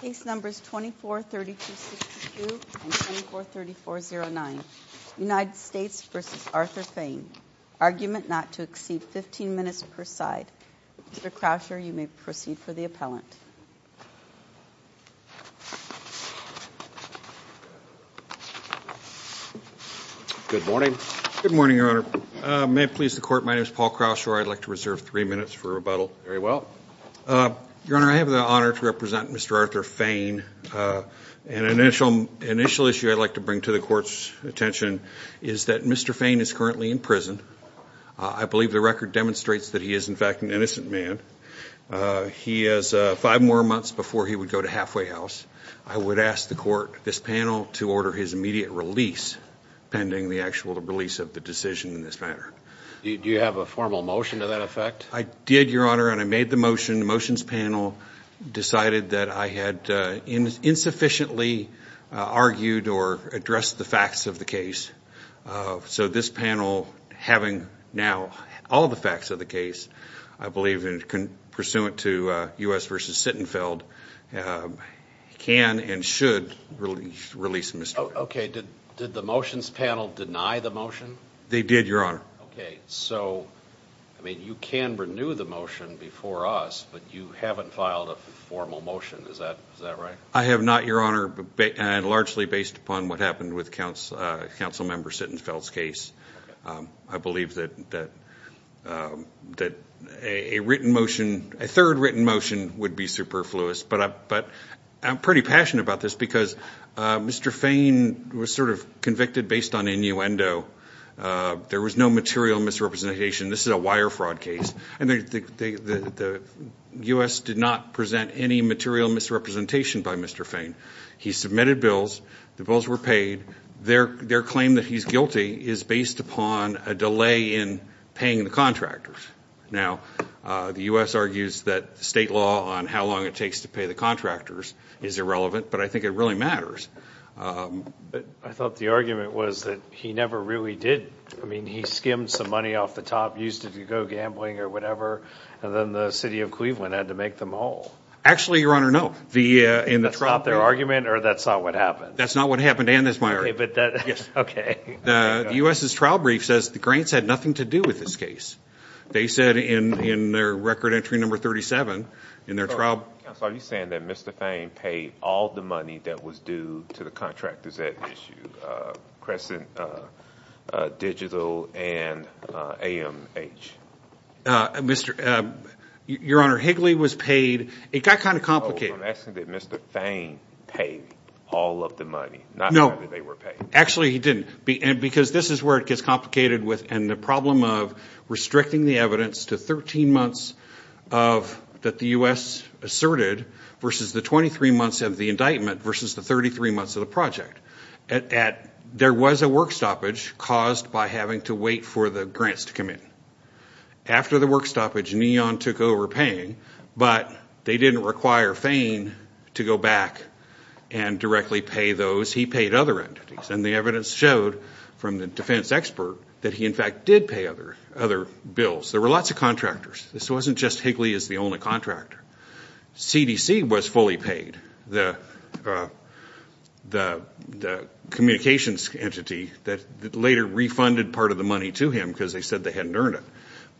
Case numbers 243262 and 243409. United States v. Arthur Fayne. Argument not to exceed 15 minutes per side. Mr. Croucher, you may proceed for the appellant. Good morning. Good morning, Your Honor. May it please the Court, my name is Paul Croucher. I'd like to reserve three minutes for rebuttal. Very well. Your Honor, I have the honor to represent Mr. Arthur Fayne. An initial issue I'd like to bring to the Court's attention is that Mr. Fayne is currently in prison. I believe the record demonstrates that he is, in fact, an innocent man. He has five more months before he would go to halfway house. I would ask the Court, this panel, to order his immediate release pending the actual release of the decision in this matter. Do you have a formal motion to that effect? I did, Your Honor, and I made the motion. The motions panel decided that I had insufficiently argued or addressed the facts of the case. So this panel, having now all the facts of the case, I believe, pursuant to U.S. v. Sittenfeld, can and should release Mr. Fayne. Okay. Did the motions panel deny the motion? They did, Your Honor. Okay. So, I mean, you can renew the motion before us, but you haven't filed a formal motion. Is that right? I have not, Your Honor, and largely based upon what happened with Councilmember Sittenfeld's case. I believe that a written motion, a third written motion, would be superfluous. But I'm pretty passionate about this because Mr. Fayne was sort of convicted based on innuendo. There was no material misrepresentation. This is a wire fraud case. And the U.S. did not present any material misrepresentation by Mr. Fayne. He submitted bills. The bills were paid. Their claim that he's guilty is based upon a delay in paying the contractors. Now, the U.S. argues that state law on how long it takes to pay the contractors is irrelevant, but I think it really matters. I thought the argument was that he never really did. I mean, he skimmed some money off the top, used it to go gambling or whatever, and then the city of Cleveland had to make them whole. Actually, Your Honor, no. That's not their argument, or that's not what happened? That's not what happened, and that's my argument. Okay. The U.S.'s trial brief says the Grants had nothing to do with this case. They said in their record entry number 37 in their trial. I'm sorry. Are you saying that Mr. Fayne paid all the money that was due to the contractors at issue, Crescent Digital and AMH? Your Honor, Higley was paid. It got kind of complicated. Oh, I'm asking did Mr. Fayne pay all of the money, not whether they were paid. Actually, he didn't, because this is where it gets complicated, and the problem of restricting the evidence to 13 months that the U.S. asserted versus the 23 months of the indictment versus the 33 months of the project. There was a work stoppage caused by having to wait for the grants to come in. After the work stoppage, Neon took over paying, but they didn't require Fayne to go back and directly pay those. He paid other entities, and the evidence showed from the defense expert that he, in fact, did pay other bills. There were lots of contractors. This wasn't just Higley as the only contractor. CDC was fully paid. The communications entity that later refunded part of the money to him because they said they hadn't earned it,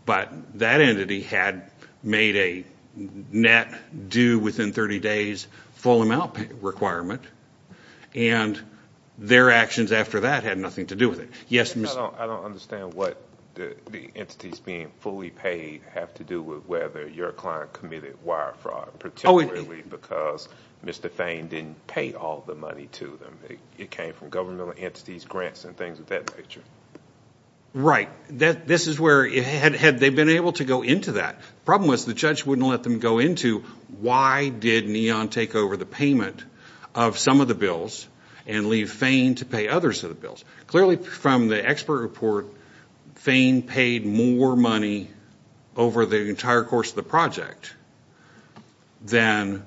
but that entity had made a net due within 30 days full amount requirement, and their actions after that had nothing to do with it. I don't understand what the entities being fully paid have to do with whether your client committed wire fraud, particularly because Mr. Fayne didn't pay all the money to them. It came from governmental entities, grants, and things of that nature. Right. This is where, had they been able to go into that, the problem was the judge wouldn't let them go into why did Neon take over the payment of some of the bills and leave Fayne to pay others of the bills. Clearly, from the expert report, Fayne paid more money over the entire course of the project than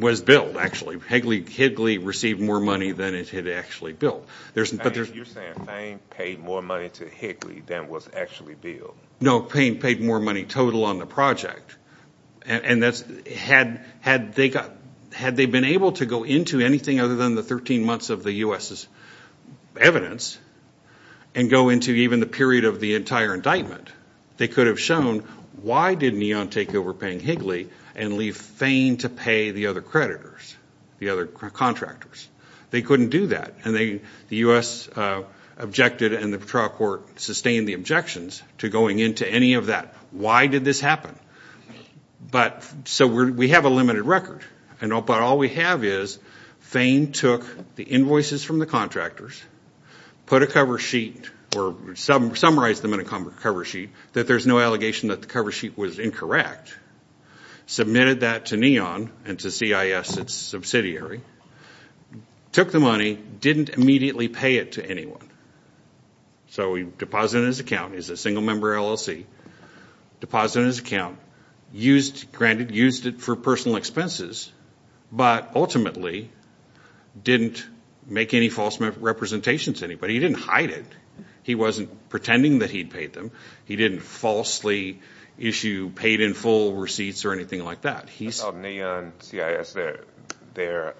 was billed, actually. Higley received more money than it had actually billed. You're saying Fayne paid more money to Higley than was actually billed. No, Payne paid more money total on the project. Had they been able to go into anything other than the 13 months of the U.S.'s evidence and go into even the period of the entire indictment, they could have shown why did Neon take over paying Higley and leave Fayne to pay the other creditors, the other contractors. They couldn't do that. The U.S. objected and the Patrol Court sustained the objections to going into any of that. Why did this happen? We have a limited record, but all we have is Fayne took the invoices from the contractors, put a cover sheet or summarized them in a cover sheet that there's no allegation that the cover sheet was incorrect, submitted that to Neon and to CIS, its subsidiary, took the money, didn't immediately pay it to anyone. So he deposited it in his account. He's a single-member LLC. Deposited it in his account. Granted, used it for personal expenses, but ultimately didn't make any false representations to anybody. He didn't hide it. He wasn't pretending that he'd paid them. He didn't falsely issue paid-in-full receipts or anything like that. Neon, CIS, their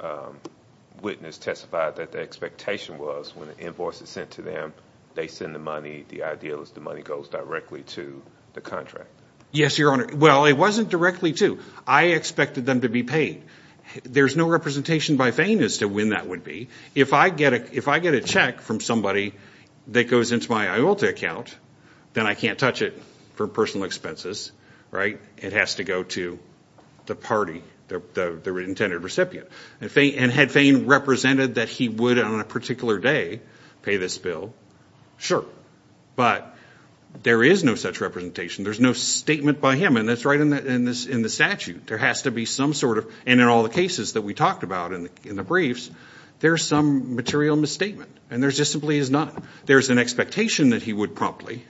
witness testified that the expectation was when an invoice is sent to them, they send the money. The idea was the money goes directly to the contractor. Yes, Your Honor. Well, it wasn't directly to. I expected them to be paid. There's no representation by Fayne as to when that would be. If I get a check from somebody that goes into my IULTA account, then I can't touch it for personal expenses, right? It has to go to the party, the intended recipient. And had Fayne represented that he would on a particular day pay this bill, sure. But there is no such representation. There's no statement by him, and that's right in the statute. There has to be some sort of, and in all the cases that we talked about in the briefs, there's some material misstatement. And there just simply is not. There's an expectation that he would promptly,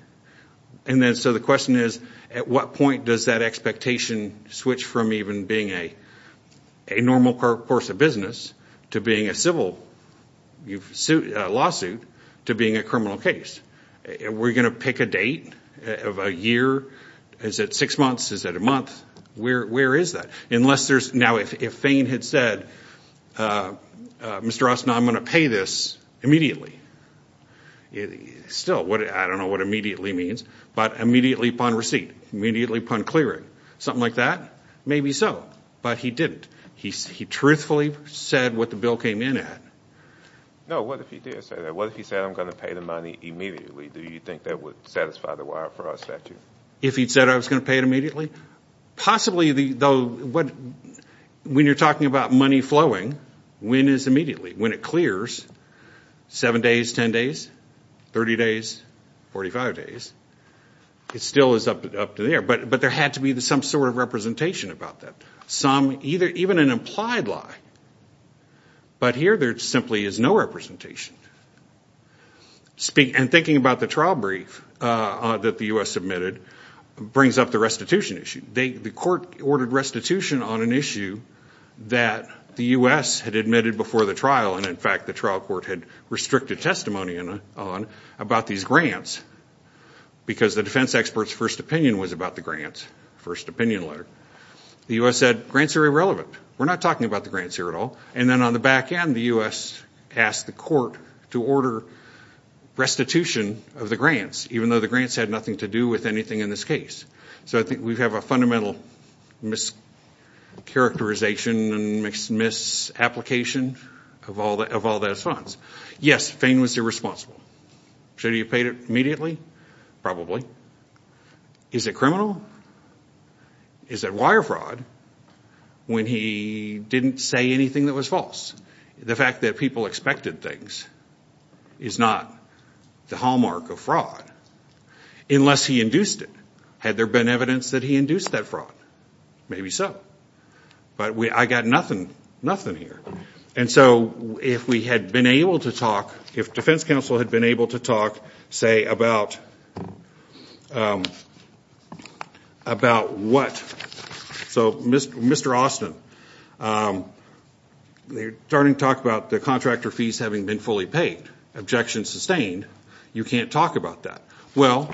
and then so the question is, at what point does that expectation switch from even being a normal course of business to being a civil lawsuit to being a criminal case? Are we going to pick a date of a year? Is it six months? Is it a month? Where is that? Now, if Fayne had said, Mr. Ross, now I'm going to pay this immediately, still, I don't know what immediately means, but immediately upon receipt, immediately upon clearing, something like that, maybe so. But he didn't. He truthfully said what the bill came in at. No, what if he did say that? What if he said I'm going to pay the money immediately? Do you think that would satisfy the wire for our statute? If he'd said I was going to pay it immediately? Possibly, though, when you're talking about money flowing, when is immediately? When it clears, seven days, ten days, 30 days, 45 days, it still is up to there. But there had to be some sort of representation about that. Some, even an implied lie. But here there simply is no representation. And thinking about the trial brief that the U.S. submitted brings up the restitution issue. The court ordered restitution on an issue that the U.S. had admitted before the trial, and, in fact, the trial court had restricted testimony on about these grants because the defense expert's first opinion was about the grants, first opinion letter. The U.S. said grants are irrelevant. We're not talking about the grants here at all. And then on the back end, the U.S. asked the court to order restitution of the grants, even though the grants had nothing to do with anything in this case. So I think we have a fundamental mischaracterization and misapplication of all those funds. Yes, Fain was irresponsible. Should he have paid it immediately? Probably. Is it criminal? Is it wire fraud when he didn't say anything that was false? The fact that people expected things is not the hallmark of fraud unless he induced it. Had there been evidence that he induced that fraud? Maybe so. But I've got nothing here. And so if we had been able to talk, if defense counsel had been able to talk, say, about what? So Mr. Austin, they're starting to talk about the contractor fees having been fully paid, objections sustained. You can't talk about that. Well,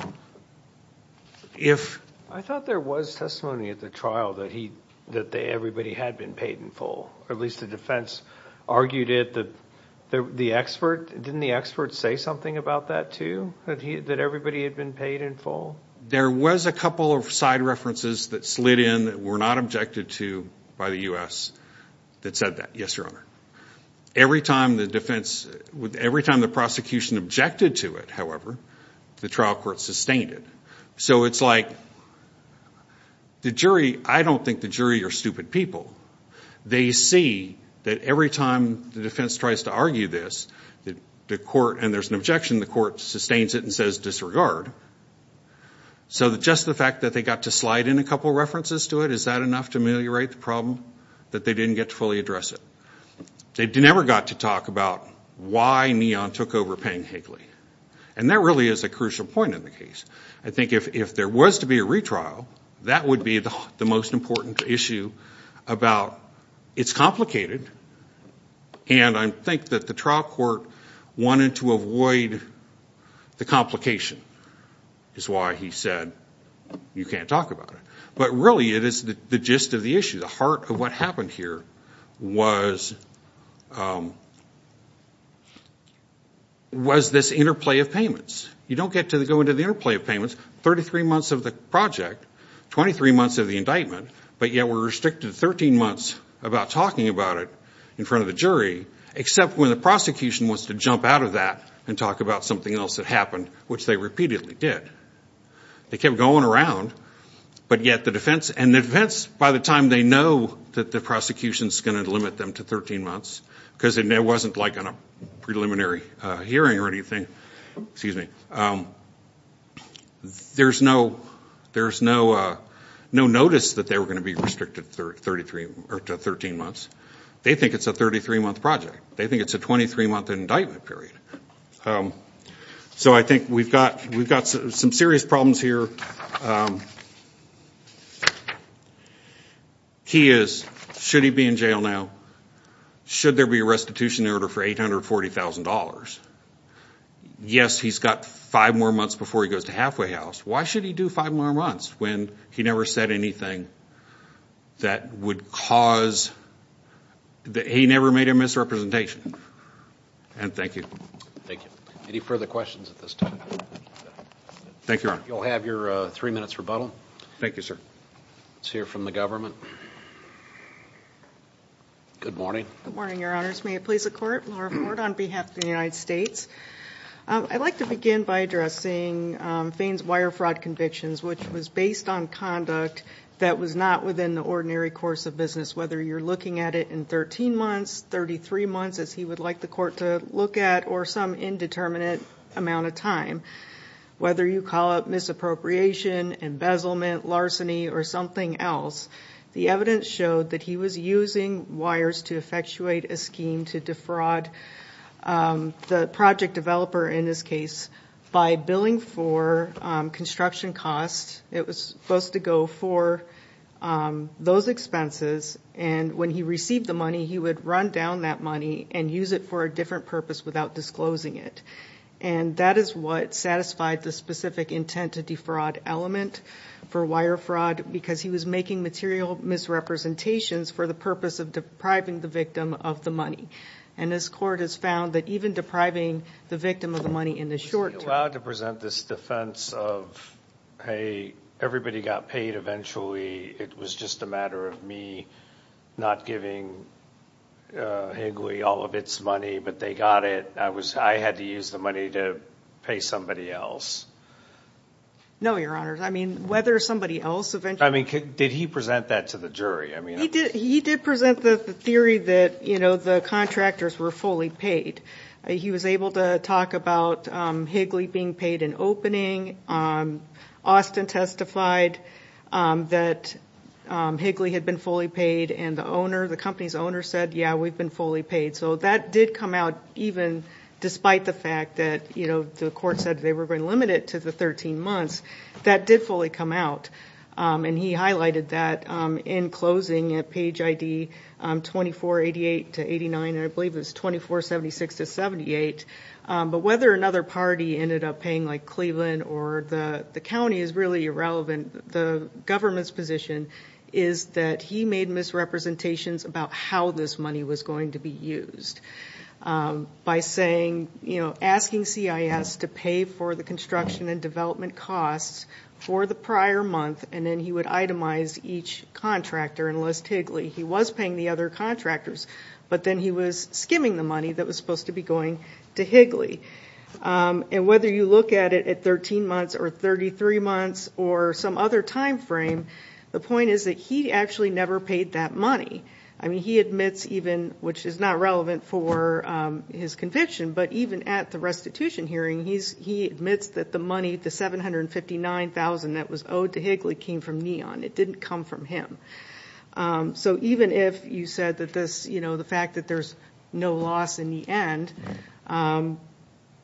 if... I thought there was testimony at the trial that everybody had been paid in full, or at least the defense argued it. The expert, didn't the expert say something about that too, that everybody had been paid in full? There was a couple of side references that slid in that were not objected to by the U.S. that said that, yes, Your Honor. Every time the defense, every time the prosecution objected to it, however, the trial court sustained it. So it's like the jury, I don't think the jury are stupid people. They see that every time the defense tries to argue this, and there's an objection, the court sustains it and says disregard. So just the fact that they got to slide in a couple of references to it, is that enough to ameliorate the problem that they didn't get to fully address it? They never got to talk about why Neon took over paying Higley. And that really is a crucial point in the case. I think if there was to be a retrial, that would be the most important issue about it's complicated, and I think that the trial court wanted to avoid the complication is why he said you can't talk about it. But really it is the gist of the issue. The heart of what happened here was this interplay of payments. You don't get to go into the interplay of payments, 33 months of the project, 23 months of the indictment, but yet we're restricted 13 months about talking about it in front of the jury, except when the prosecution wants to jump out of that and talk about something else that happened, which they repeatedly did. They kept going around, but yet the defense, and the defense by the time they know that the prosecution's going to limit them to 13 months, because it wasn't like a preliminary hearing or anything, there's no notice that they were going to be restricted to 13 months. They think it's a 33-month project. They think it's a 23-month indictment period. So I think we've got some serious problems here. The key is should he be in jail now? Should there be a restitution order for $840,000? Yes, he's got five more months before he goes to halfway house. Why should he do five more months when he never said anything that would cause he never made a misrepresentation? And thank you. Thank you. Any further questions at this time? Thank you, Ron. You'll have your three minutes rebuttal. Thank you, sir. Let's hear from the government. Good morning. Good morning, Your Honors. May it please the Court, Laura Ford on behalf of the United States. I'd like to begin by addressing Fain's wire fraud convictions, which was based on conduct that was not within the ordinary course of business, whether you're looking at it in 13 months, 33 months, as he would like the court to look at, or some indeterminate amount of time. Whether you call it misappropriation, embezzlement, larceny, or something else, the evidence showed that he was using wires to effectuate a scheme to defraud the project developer, in this case, by billing for construction costs. It was supposed to go for those expenses. And when he received the money, he would run down that money and use it for a different purpose without disclosing it. And that is what satisfied the specific intent to defraud element for wire fraud, because he was making material misrepresentations for the purpose of depriving the victim of the money. And this court has found that even depriving the victim of the money in the short term... Would you be allowed to present this defense of, hey, everybody got paid eventually. It was just a matter of me not giving Higley all of its money, but they got it. I had to use the money to pay somebody else. No, Your Honor. I mean, whether somebody else eventually... Did he present that to the jury? He did present the theory that the contractors were fully paid. He was able to talk about Higley being paid in opening. Austin testified that Higley had been fully paid, and the company's owner said, yeah, we've been fully paid. So that did come out even despite the fact that the court said they were going to limit it to the 13 months. That did fully come out. And he highlighted that in closing at page ID 2488 to 89, and I believe it was 2476 to 78. But whether another party ended up paying like Cleveland or the county is really irrelevant. The government's position is that he made misrepresentations about how this money was going to be used. By asking CIS to pay for the construction and development costs for the prior month, and then he would itemize each contractor and list Higley. He was paying the other contractors, but then he was skimming the money that was supposed to be going to Higley. And whether you look at it at 13 months or 33 months or some other time frame, the point is that he actually never paid that money. I mean, he admits even, which is not relevant for his conviction, but even at the restitution hearing, he admits that the money, the $759,000 that was owed to Higley came from Neon. It didn't come from him. So even if you said that the fact that there's no loss in the end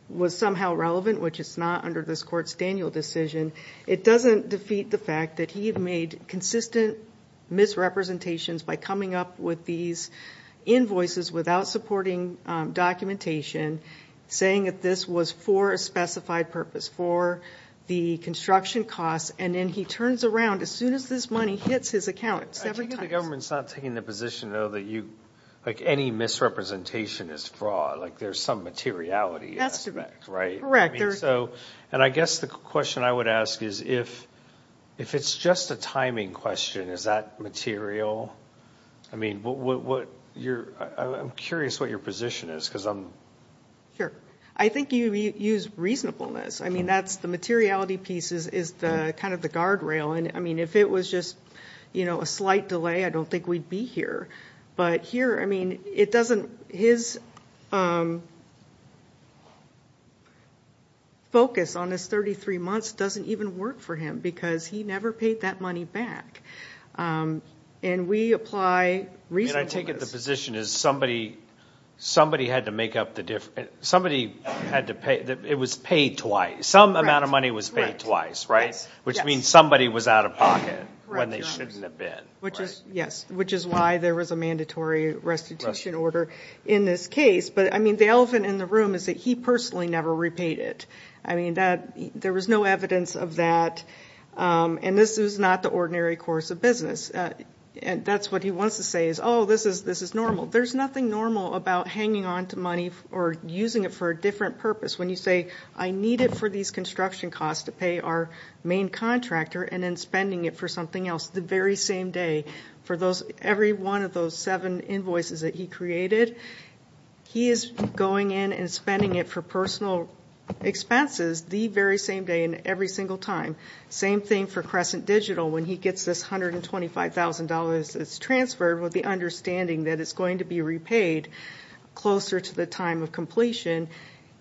was somehow relevant, which is not under this court's Daniel decision, it doesn't defeat the fact that he made consistent misrepresentations by coming up with these invoices without supporting documentation, saying that this was for a specified purpose, for the construction costs. And then he turns around as soon as this money hits his account seven times. I think the government's not taking the position, though, that any misrepresentation is fraud, like there's some materiality aspect, right? Correct. And I guess the question I would ask is if it's just a timing question, is that material? I mean, I'm curious what your position is because I'm... Sure. I think you use reasonableness. I mean, the materiality piece is kind of the guardrail. And, I mean, if it was just a slight delay, I don't think we'd be here. But here, I mean, his focus on his 33 months doesn't even work for him because he never paid that money back. And we apply reasonableness. I mean, I take it the position is somebody had to make up the difference. Somebody had to pay. It was paid twice. Some amount of money was paid twice, right? Yes. Which means somebody was out of pocket when they shouldn't have been. Yes, which is why there was a mandatory restitution order in this case. But, I mean, the elephant in the room is that he personally never repaid it. I mean, there was no evidence of that. And this is not the ordinary course of business. That's what he wants to say is, oh, this is normal. There's nothing normal about hanging on to money or using it for a different purpose. When you say, I need it for these construction costs to pay our main contractor and then spending it for something else the very same day for every one of those seven invoices that he created, he is going in and spending it for personal expenses the very same day and every single time. Same thing for Crescent Digital. When he gets this $125,000 that's transferred with the understanding that it's going to be repaid closer to the time of completion,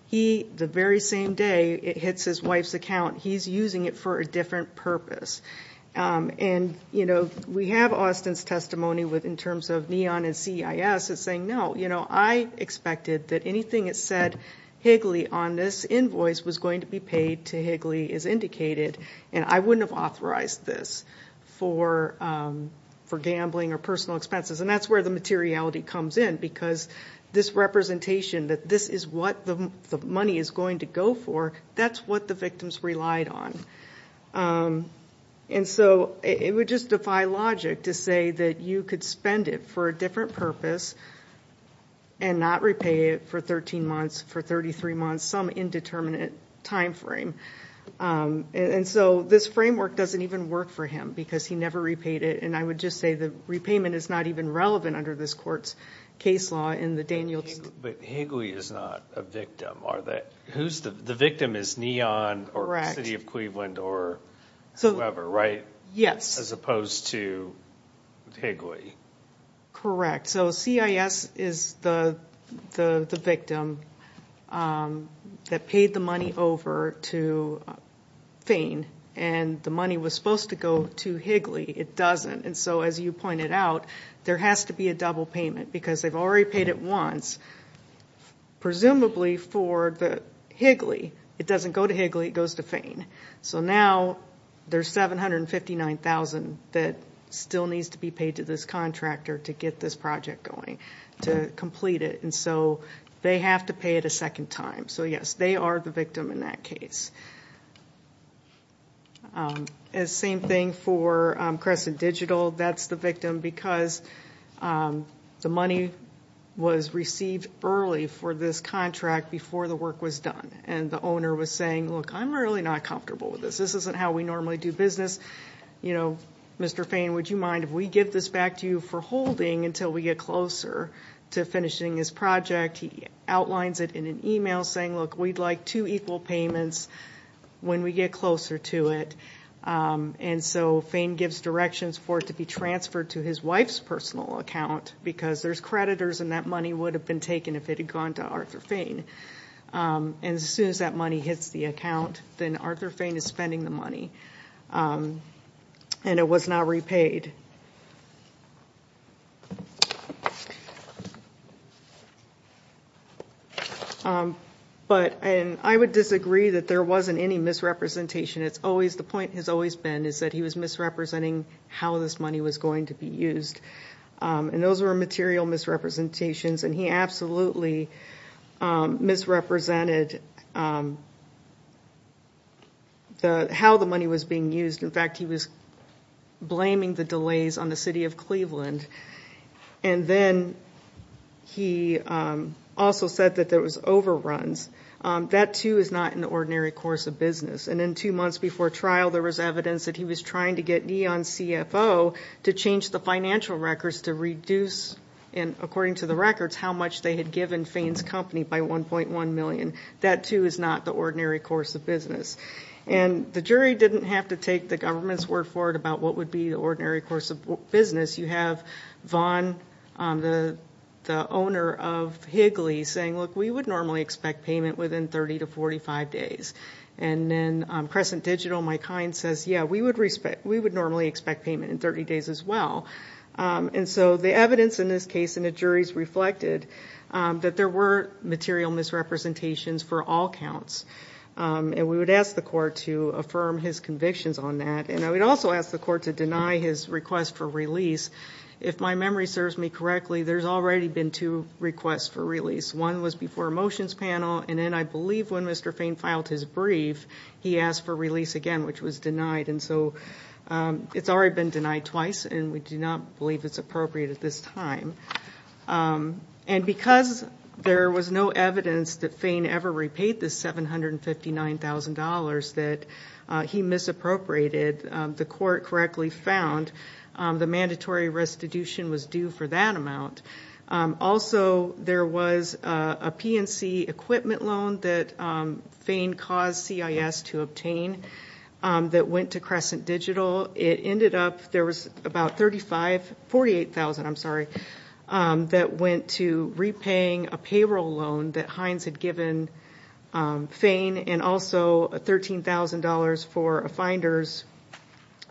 he, the very same day it hits his wife's account, he's using it for a different purpose. And, you know, we have Austin's testimony in terms of NEON and CIS that's saying, no. You know, I expected that anything that said Higley on this invoice was going to be paid to Higley as indicated, and I wouldn't have authorized this for gambling or personal expenses. And that's where the materiality comes in because this representation that this is what the money is going to go for, that's what the victims relied on. And so it would just defy logic to say that you could spend it for a different purpose and not repay it for 13 months, for 33 months, some indeterminate time frame. And so this framework doesn't even work for him because he never repaid it, and I would just say the repayment is not even relevant under this court's case law in the Daniels. But Higley is not a victim, are they? The victim is NEON or the city of Cleveland or whoever, right? Yes. As opposed to Higley. Correct. So CIS is the victim that paid the money over to Fain, and the money was supposed to go to Higley. It doesn't. And so, as you pointed out, there has to be a double payment because they've already paid it once, presumably for the Higley. It doesn't go to Higley. It goes to Fain. So now there's $759,000 that still needs to be paid to this contractor to get this project going, to complete it. And so they have to pay it a second time. So, yes, they are the victim in that case. Same thing for Crescent Digital. That's the victim because the money was received early for this contract before the work was done, and the owner was saying, look, I'm really not comfortable with this. This isn't how we normally do business. You know, Mr. Fain, would you mind if we give this back to you for holding until we get closer to finishing this project? He outlines it in an email saying, look, we'd like two equal payments when we get closer to it. And so Fain gives directions for it to be transferred to his wife's personal account because there's creditors and that money would have been taken if it had gone to Arthur Fain. And as soon as that money hits the account, then Arthur Fain is spending the money. And it was not repaid. But I would disagree that there wasn't any misrepresentation. The point has always been that he was misrepresenting how this money was going to be used. And those were material misrepresentations. And he absolutely misrepresented how the money was being used. In fact, he was blaming the delays on the city of Cleveland. And then he also said that there was overruns. That, too, is not in the ordinary course of business. And then two months before trial, there was evidence that he was trying to get neon CFO to change the financial records to reduce, according to the records, how much they had given Fain's company by $1.1 million. That, too, is not the ordinary course of business. And the jury didn't have to take the government's word for it about what would be the ordinary course of business. You have Vaughn, the owner of Higley, saying, look, we would normally expect payment within 30 to 45 days. And then Crescent Digital, my client, says, yeah, we would normally expect payment in 30 days as well. And so the evidence in this case and the juries reflected that there were material misrepresentations for all counts. And we would ask the court to affirm his convictions on that. And I would also ask the court to deny his request for release. If my memory serves me correctly, there's already been two requests for release. One was before a motions panel, and then I believe when Mr. Fain filed his brief, he asked for release again, which was denied. And so it's already been denied twice, and we do not believe it's appropriate at this time. And because there was no evidence that Fain ever repaid the $759,000 that he misappropriated, the court correctly found the mandatory restitution was due for that amount. Also, there was a P&C equipment loan that Fain caused CIS to obtain that went to Crescent Digital. It ended up, there was about $38,000 that went to repaying a payroll loan that Hines had given Fain, and also $13,000 for a finder's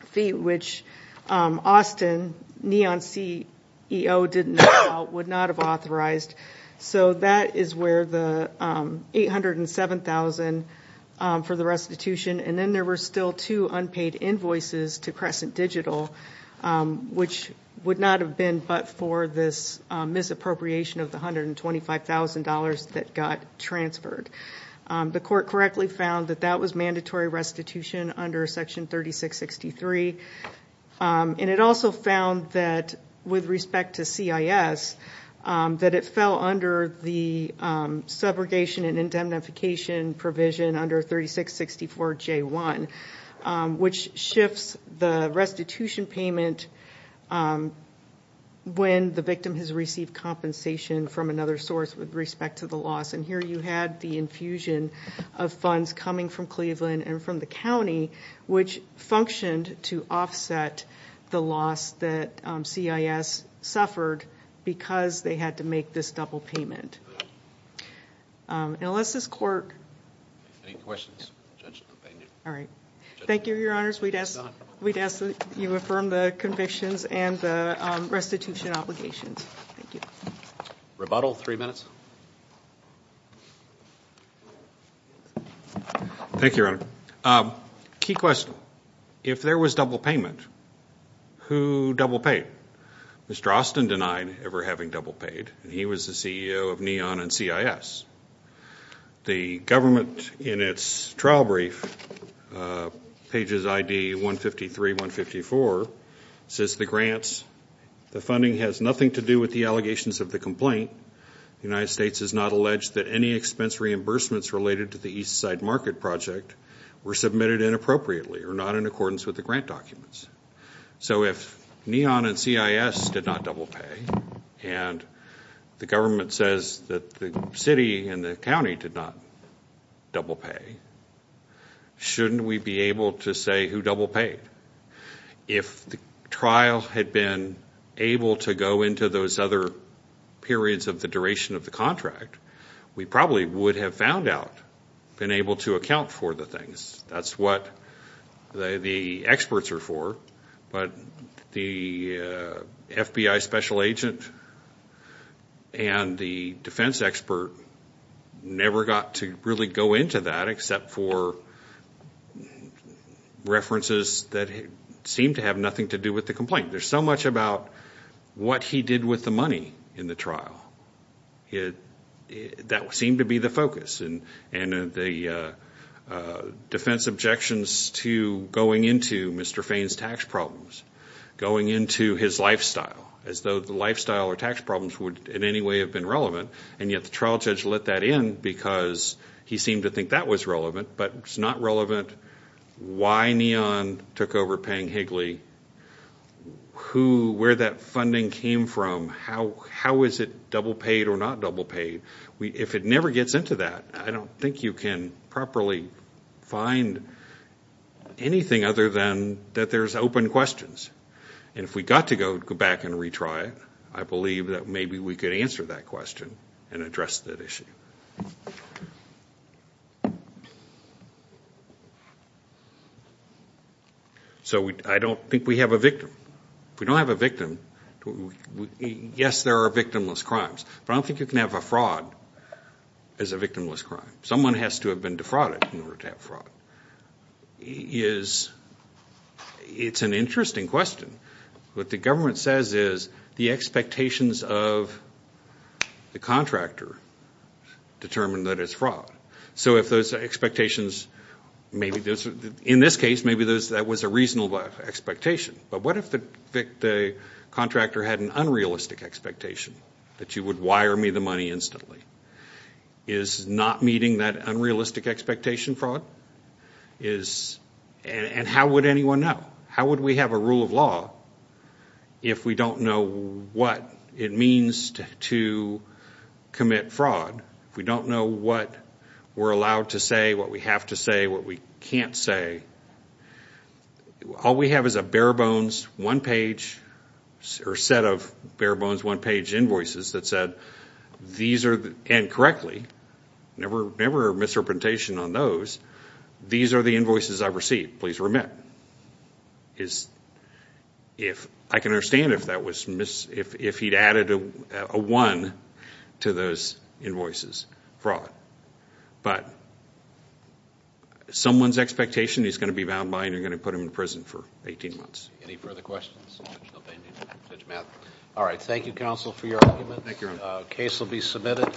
fee, which Austin, neon CEO didn't know about, would not have authorized. So that is where the $807,000 for the restitution, and then there were still two unpaid invoices to Crescent Digital, which would not have been but for this misappropriation of the $125,000 that got transferred. The court correctly found that that was mandatory restitution under Section 3663. And it also found that, with respect to CIS, that it fell under the segregation and indemnification provision under 3664J1, which shifts the restitution payment when the victim has received compensation from another source with respect to the loss. And here you had the infusion of funds coming from Cleveland and from the county, which functioned to offset the loss that CIS suffered because they had to make this double payment. And unless this court... Any questions? All right. Thank you, Your Honors. We'd ask that you affirm the convictions and the restitution obligations. Thank you. Rebuttal, three minutes. Thank you, Your Honor. Key question. If there was double payment, who double paid? Mr. Austin denied ever having double paid, and he was the CEO of NEON and CIS. The government, in its trial brief, pages ID 153, 154, says the grants, the funding has nothing to do with the allegations of the complaint. The United States has not alleged that any expense reimbursements related to the Eastside Market Project were submitted inappropriately or not in accordance with the grant documents. So if NEON and CIS did not double pay and the government says that the city and the county did not double pay, shouldn't we be able to say who double paid? If the trial had been able to go into those other periods of the duration of the contract, we probably would have found out, been able to account for the things. That's what the experts are for, but the FBI special agent and the defense expert never got to really go into that except for references that seem to have nothing to do with the complaint. There's so much about what he did with the money in the trial. That seemed to be the focus and the defense objections to going into Mr. Fain's tax problems, going into his lifestyle as though the lifestyle or tax problems would in any way have been relevant, and yet the trial judge let that in because he seemed to think that was relevant, but it's not relevant. Why NEON took over paying Higley, where that funding came from, how is it double paid or not double paid? If it never gets into that, I don't think you can properly find anything other than that there's open questions. And if we got to go back and retry it, I believe that maybe we could answer that question and address that issue. So I don't think we have a victim. If we don't have a victim, yes, there are victimless crimes, but I don't think you can have a fraud as a victimless crime. Someone has to have been defrauded in order to have fraud. It's an interesting question. What the government says is the expectations of the contractor determine that it's fraud. So if those expectations, in this case, maybe that was a reasonable expectation, but what if the contractor had an unrealistic expectation that you would wire me the money instantly? Is not meeting that unrealistic expectation fraud? And how would anyone know? How would we have a rule of law if we don't know what it means to commit fraud, if we don't know what we're allowed to say, what we have to say, what we can't say? All we have is a bare-bones one-page or set of bare-bones one-page invoices that said, and correctly, never misrepresentation on those, these are the invoices I received, please remit. I can understand if he'd added a one to those invoices, fraud. But someone's expectation is going to be bound by and you're going to put him in prison for 18 months. Any further questions? All right. Thank you, counsel, for your argument. The case will be submitted.